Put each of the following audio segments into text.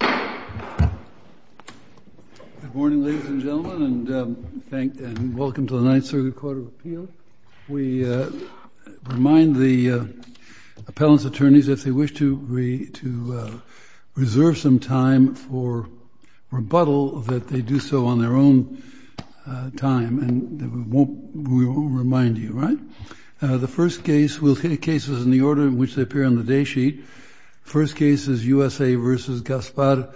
Good morning, ladies and gentlemen, and welcome to the Ninth Circuit Court of Appeal. We remind the appellant's attorneys, if they wish to reserve some time for rebuttal, that they do so on their own time, and we won't remind you, right? The first case, we'll take cases in the order in which they appear on the day sheet. First case is USA v. Gaspar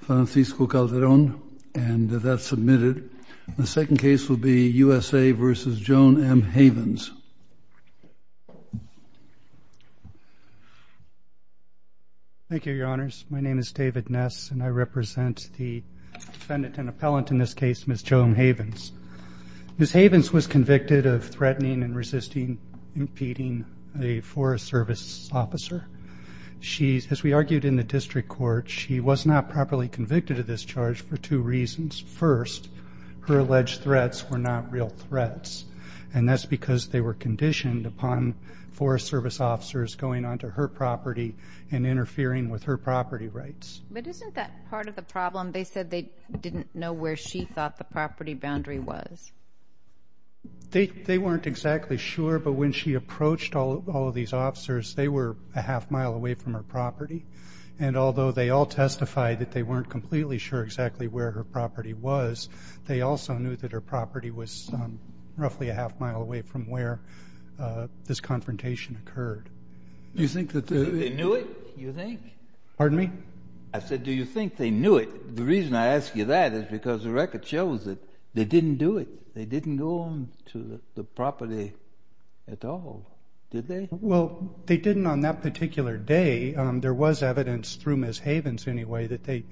Francisco Calderon, and that's submitted. The second case will be USA v. Joan M. Havens. Thank you, your honors. My name is David Ness, and I represent the defendant and appellant in this case, Ms. Joan Havens. Ms. Havens was convicted of threatening and resisting impeding a Forest Service officer. As we argued in the district court, she was not properly convicted of this charge for two reasons. First, her alleged threats were not real threats, and that's because they were conditioned upon Forest Service officers going onto her property and interfering with her property rights. But isn't that part of the problem? They said they didn't know where she thought the property boundary was. They weren't exactly sure, but when she approached all of these officers, they were a half mile away from her property. And although they all testified that they weren't completely sure exactly where her property was, they also knew that her property was roughly a half mile away from where this confrontation occurred. You think that they knew it, you think? Pardon me? I said, do you think they knew it? The reason I ask you that is because the record shows that they didn't do it. They didn't go onto the property at all, did they? Well, they didn't on that particular day. There was evidence through Ms. Havens, anyway, that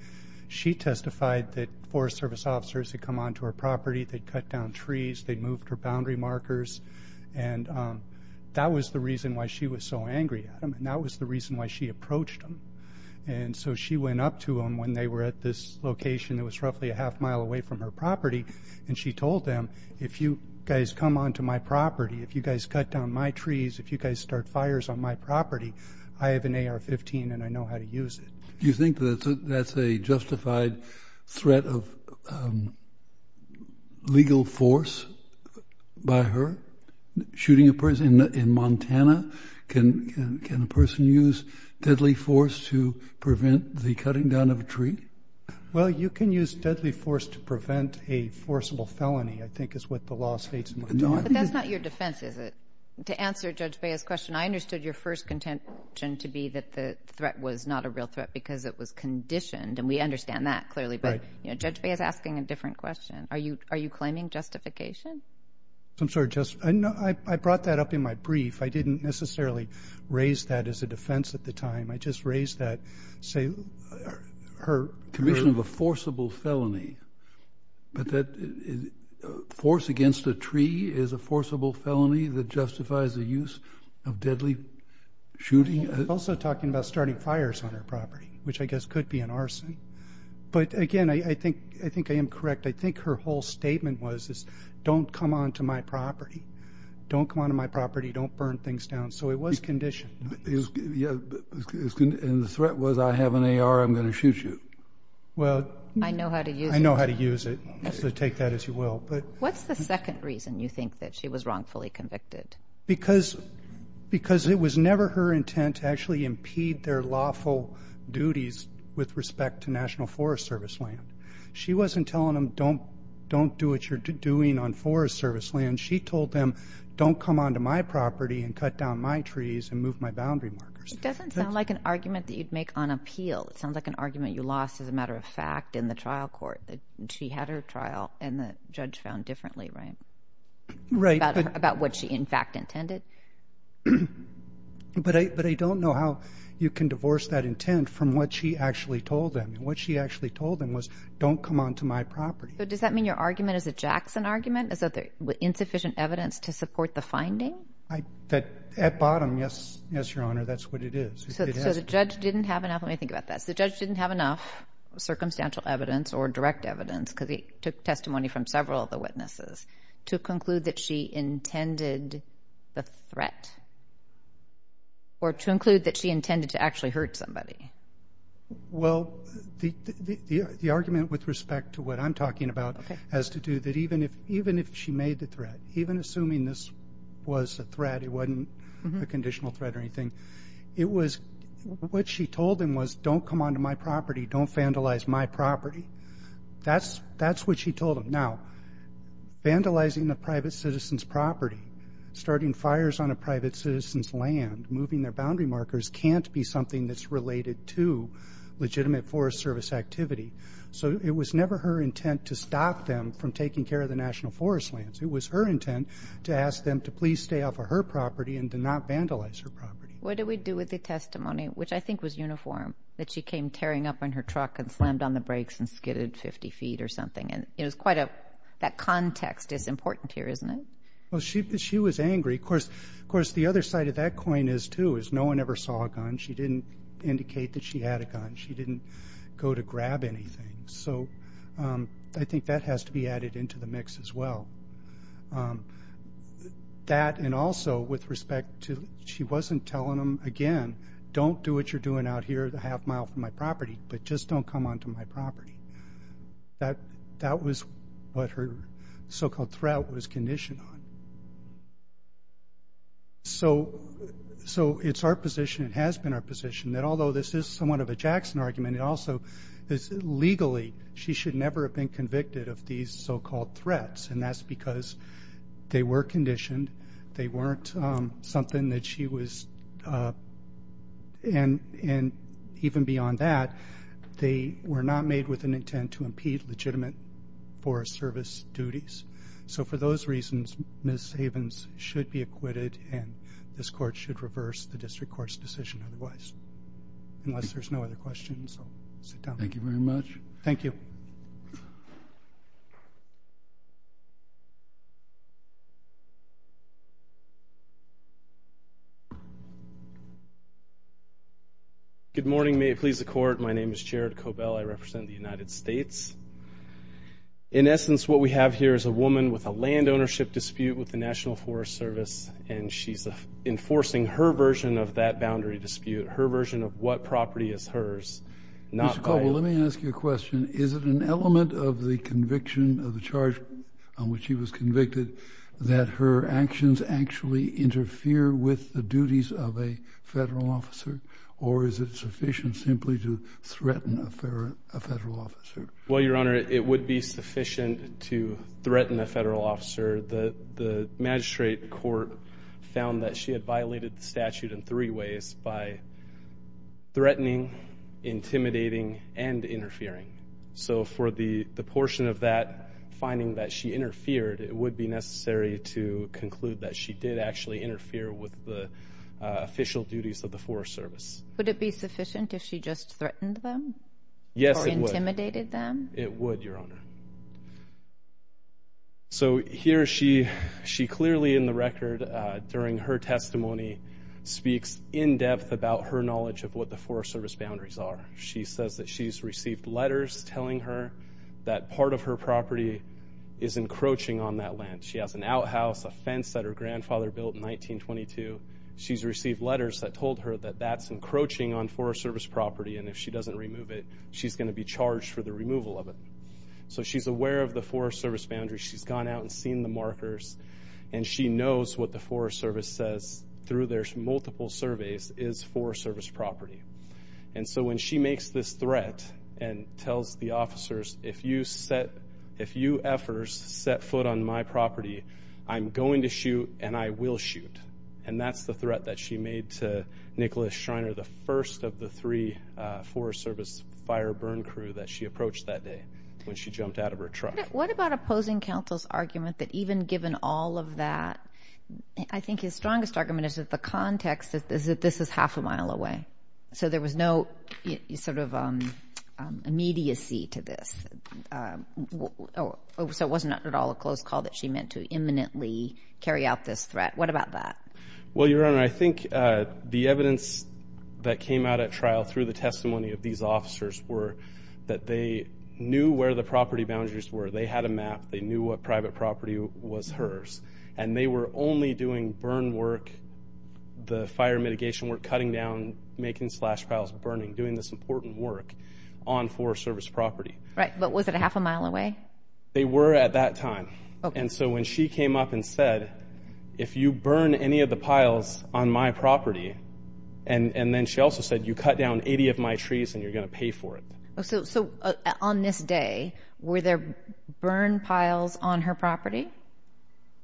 she testified that Forest Service officers had come onto her property, they'd cut down trees, they'd moved her boundary markers. And that was the reason why she was so angry at them, and that was the reason why she approached them. And so she went up to them when they were at this location that was roughly a half mile away from her property, and she told them, if you guys come onto my property, if you guys cut down my trees, if you guys start fires on my property, I have an AR-15 and I know how to use it. Do you think that that's a justified threat of legal force by her, shooting a person in Montana? Can a person use deadly force to prevent the cutting down of a tree? Well, you can use deadly force to prevent a forcible felony, I think is what the law states in Montana. But that's not your defense, is it? To answer Judge Bea's question, I understood your first contention to be that the threat was not a real threat because it was conditioned, and we understand that clearly, but Judge Bea is asking a different question. Are you claiming justification? I'm sorry, I brought that up in my brief. I didn't necessarily raise that as a defense at the time. I just raised that, say, her... Commission of a forcible felony, but that force against a tree is a forcible felony that justifies the use of deadly shooting? I'm also talking about starting fires on her property, which I guess could be an arson. But again, I think I am correct. I think her whole statement was, is don't come onto my property. Don't come onto my property. Don't burn things down. So it was conditioned. And the threat was, I have an AR, I'm going to shoot you. Well... I know how to use it. I know how to use it, so take that as you will, but... What's the second reason you think that she was wrongfully convicted? Because it was never her intent to actually impede their lawful duties with respect to National Forest Service land. She wasn't telling them, don't do what you're doing on Forest Service land. She told them, don't come onto my property and cut down my trees and move my boundary markers. It doesn't sound like an argument that you'd make on appeal. It sounds like an argument you lost, as a matter of fact, in the trial court. She had her trial, and the judge found differently, right? Right. About what she, in fact, intended? But I don't know how you can divorce that intent from what she actually told them. What she actually told them was, don't come onto my property. So does that mean your argument is a Jackson argument? Is that there was insufficient evidence to support the finding? At bottom, yes, yes, Your Honor, that's what it is. So the judge didn't have enough, let me think about that. The judge didn't have enough circumstantial evidence or direct evidence, because he took testimony from several of the witnesses, to conclude that she intended the threat? Or to include that she intended to actually hurt somebody? Well, the argument with respect to what I'm talking about has to do that, even if she made the threat, even assuming this was a threat, it wasn't a conditional threat or anything, it was, what she told them was, don't come onto my property, don't vandalize my property. That's what she told them. Now, vandalizing a private citizen's property, starting fires on a private citizen's land, moving their boundary markers, can't be something that's related to legitimate Forest Service activity. So it was never her intent to stop them from taking care of the national forest lands. It was her intent to ask them to please stay off of her property and to not vandalize her property. What did we do with the testimony, which I think was uniform, that she came tearing up on her truck and slammed on the brakes and skidded 50 feet or something? And it was quite a, that context is important here, isn't it? Well, she was angry. Of course, the other side of that coin is too, is no one ever saw a gun. She didn't indicate that she had a gun. She didn't go to grab anything. So I think that has to be added into the mix as well. That and also with respect to, she wasn't telling them, again, don't do what you're doing out here a half mile from my property, but just don't come onto my property. That was what her so-called threat was conditioned on. So it's our position, it has been our position, that although this is somewhat of a Jackson argument, it also is legally, she should never have been convicted of these so-called threats. And that's because they were conditioned. They weren't something that she was, and even beyond that, they were not made with an intent to impede legitimate forest service duties. So for those reasons, Ms. Havens should be acquitted, and this court should reverse the district court's decision otherwise. Unless there's no other questions, I'll sit down. Thank you very much. Thank you. Good morning. May it please the court. My name is Jared Cobell. I represent the United States. In essence, what we have here is a woman with a land ownership dispute with the National Forest Service, and she's enforcing her version of that boundary dispute, her version of what property is hers, not mine. Mr. Cobell, let me ask you a question. Is it an element of the conviction of the charge on which she was convicted that her actions actually interfere with the duties of a federal officer, or is it sufficient simply to threaten a federal officer? Well, Your Honor, it would be sufficient to threaten a federal officer. The magistrate court found that she had violated the statute in three ways, by threatening, intimidating, and interfering. So for the portion of that, finding that she interfered, it would be necessary to conclude that she did actually interfere with the official duties of the Forest Service. Would it be sufficient if she just threatened them? Yes, it would. Or intimidated them? It would, Your Honor. So here she clearly in the record, during her testimony, speaks in depth about her knowledge of what the Forest Service boundaries are. She says that she's received letters telling her that part of her property is encroaching on that land. She has an outhouse, a fence that her grandfather built in 1922. She's received letters that told her that that's encroaching on Forest Service property, and if she doesn't remove it, she's going to be charged for the removal of it. So she's aware of the Forest Service boundaries. She's gone out and seen the markers. And she knows what the Forest Service says through their multiple surveys is Forest Service property. And so when she makes this threat and tells the officers, if you F'ers set foot on my property, I'm going to shoot and I will shoot. And that's the threat that she made to Nicholas Schreiner, the first of the three Forest Service fire burn crew that she approached that day, when she jumped out of her truck. What about opposing counsel's argument that even given all of that, I think his strongest argument is that the context is that this is half a mile away. So there was no sort of immediacy to this. So it wasn't at all a close call that she meant to imminently carry out this threat. What about that? Well, Your Honor, I think the evidence that came out at trial through the testimony of these officers were that they knew where the property boundaries were. They had a map. They knew what private property was hers. And they were only doing burn work, the fire mitigation work, cutting down, making slash piles, burning, doing this important work on Forest Service property. Right. But was it a half a mile away? They were at that time. And so when she came up and said, if you burn any of the piles on my property, and then she also said, you cut down 80 of my trees and you're going to pay for it. So on this day, were there burn piles on her property?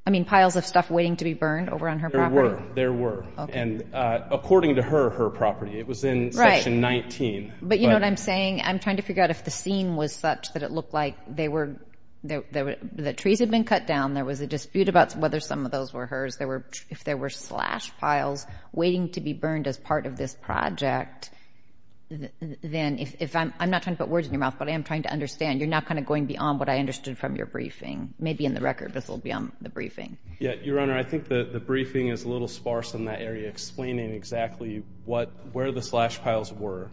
I mean, piles of stuff waiting to be burned over on her property? There were. And according to her, her property, it was in Section 19. But you know what I'm saying? I'm trying to figure out if the scene was such that it looked like they were, the trees had been cut down. There was a dispute about whether some of those were hers. There were, if there were slash piles waiting to be burned as part of this project, then if I'm not trying to put words in your mouth, but I am trying to understand, you're not kind of going beyond what I understood from your briefing. Maybe in the record, this will be on the briefing. Yeah, Your Honor, I think the briefing is a little sparse in that area, explaining exactly what, where the slash piles were.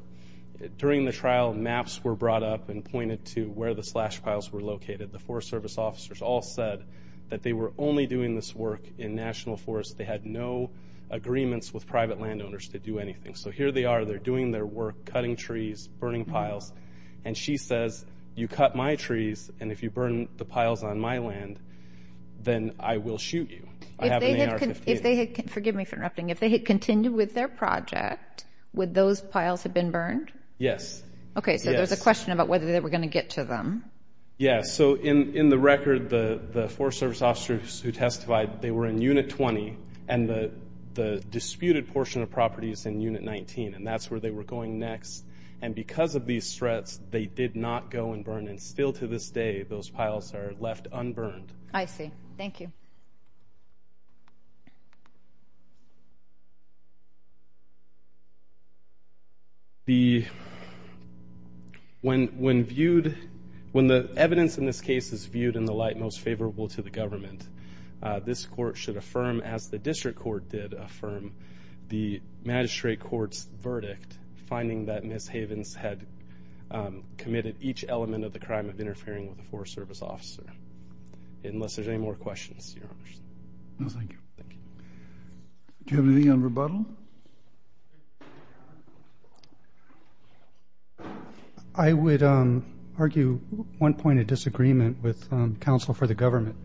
During the trial, maps were brought up and pointed to where the slash piles were located. The Forest Service officers all said that they were only doing this work in national forests. They had no agreements with private landowners to do anything. So here they are, they're doing their work, cutting trees, burning piles. And she says, you cut my trees, and if you burn the piles on my land, then I will shoot you. I have an AR-15. If they had, forgive me for interrupting, if they had continued with their project, would those piles have been burned? Yes. Okay, so there's a question about whether they were going to get to them. Yeah, so in the record, the Forest Service officers who testified, they were in Unit 20, and the disputed portion of property is in Unit 19. And that's where they were going next. And because of these threats, they did not go and burn. And still to this day, those piles are left unburned. I see. Thank you. The, when viewed, when the evidence in this case is viewed in the light most favorable to the government, this court should affirm, as the district court did affirm, the magistrate court's verdict, finding that Ms. Havens had committed each element of the crime of interfering with the Forest Service officer. Unless there's any more questions, Your Honor. No, thank you. Thank you. Do you have anything on rebuttal? Rebuttal? I would argue one point of disagreement with counsel for the government.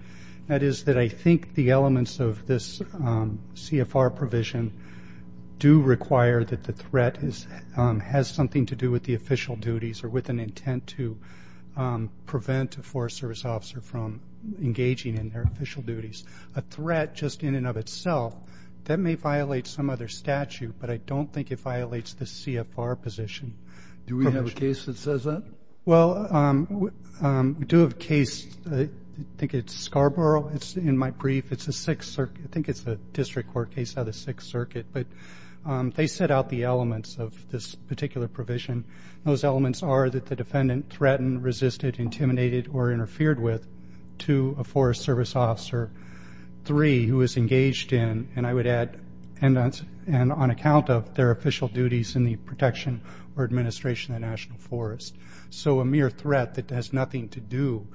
That is that I think the elements of this CFR provision do require that the threat has something to do with the official duties or with an intent to prevent a Forest Service officer from engaging in their official duties. If there's a threat just in and of itself, that may violate some other statute. But I don't think it violates the CFR position. Do we have a case that says that? Well, we do have a case. I think it's Scarborough. It's in my brief. It's a Sixth Circuit. I think it's a district court case out of the Sixth Circuit. But they set out the elements of this particular provision. Those elements are that the defendant threatened, resisted, intimidated, or interfered with to a Forest Service officer, three, who was engaged in, and I would add, and on account of their official duties in the protection or administration of the National Forest. So a mere threat that has nothing to do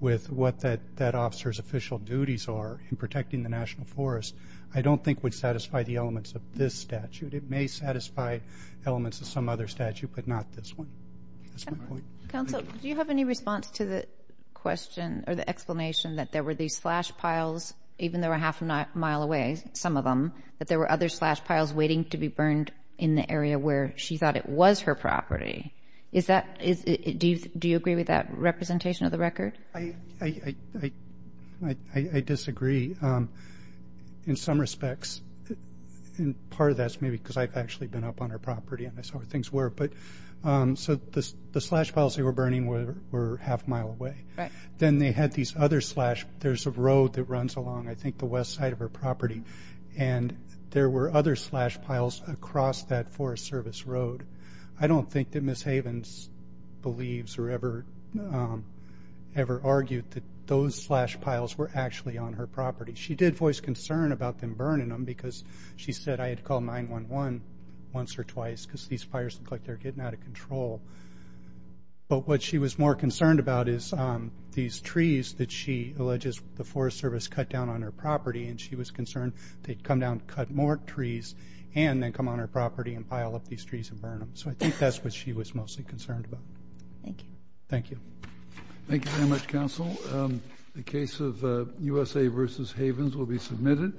with what that officer's official duties are in protecting the National Forest I don't think would satisfy the elements of this statute. It may satisfy elements of some other statute, but not this one. That's my point. Counsel, do you have any response to the question or the explanation that there were these slash piles, even though they were half a mile away, some of them, that there were other slash piles waiting to be burned in the area where she thought it was her property? Do you agree with that representation of the record? I disagree in some respects. Part of that is maybe because I've actually been up on her property and I saw where things were. So the slash piles they were burning were half a mile away. Then they had these other slash, there's a road that runs along, I think, the west side of her property, and there were other slash piles across that Forest Service road. I don't think that Ms. Havens believes or ever argued that those slash piles were actually on her property. She did voice concern about them burning them because she said, I had to call 9-1-1 once or twice because these fires look like they're getting out of control. But what she was more concerned about is these trees that she alleges the Forest Service cut down on her property, and she was concerned they'd come down, cut more trees, and then come on her property and pile up these trees and burn them. So I think that's what she was mostly concerned about. Thank you. Thank you. Thank you very much, Counsel. The case of USA versus Havens will be submitted.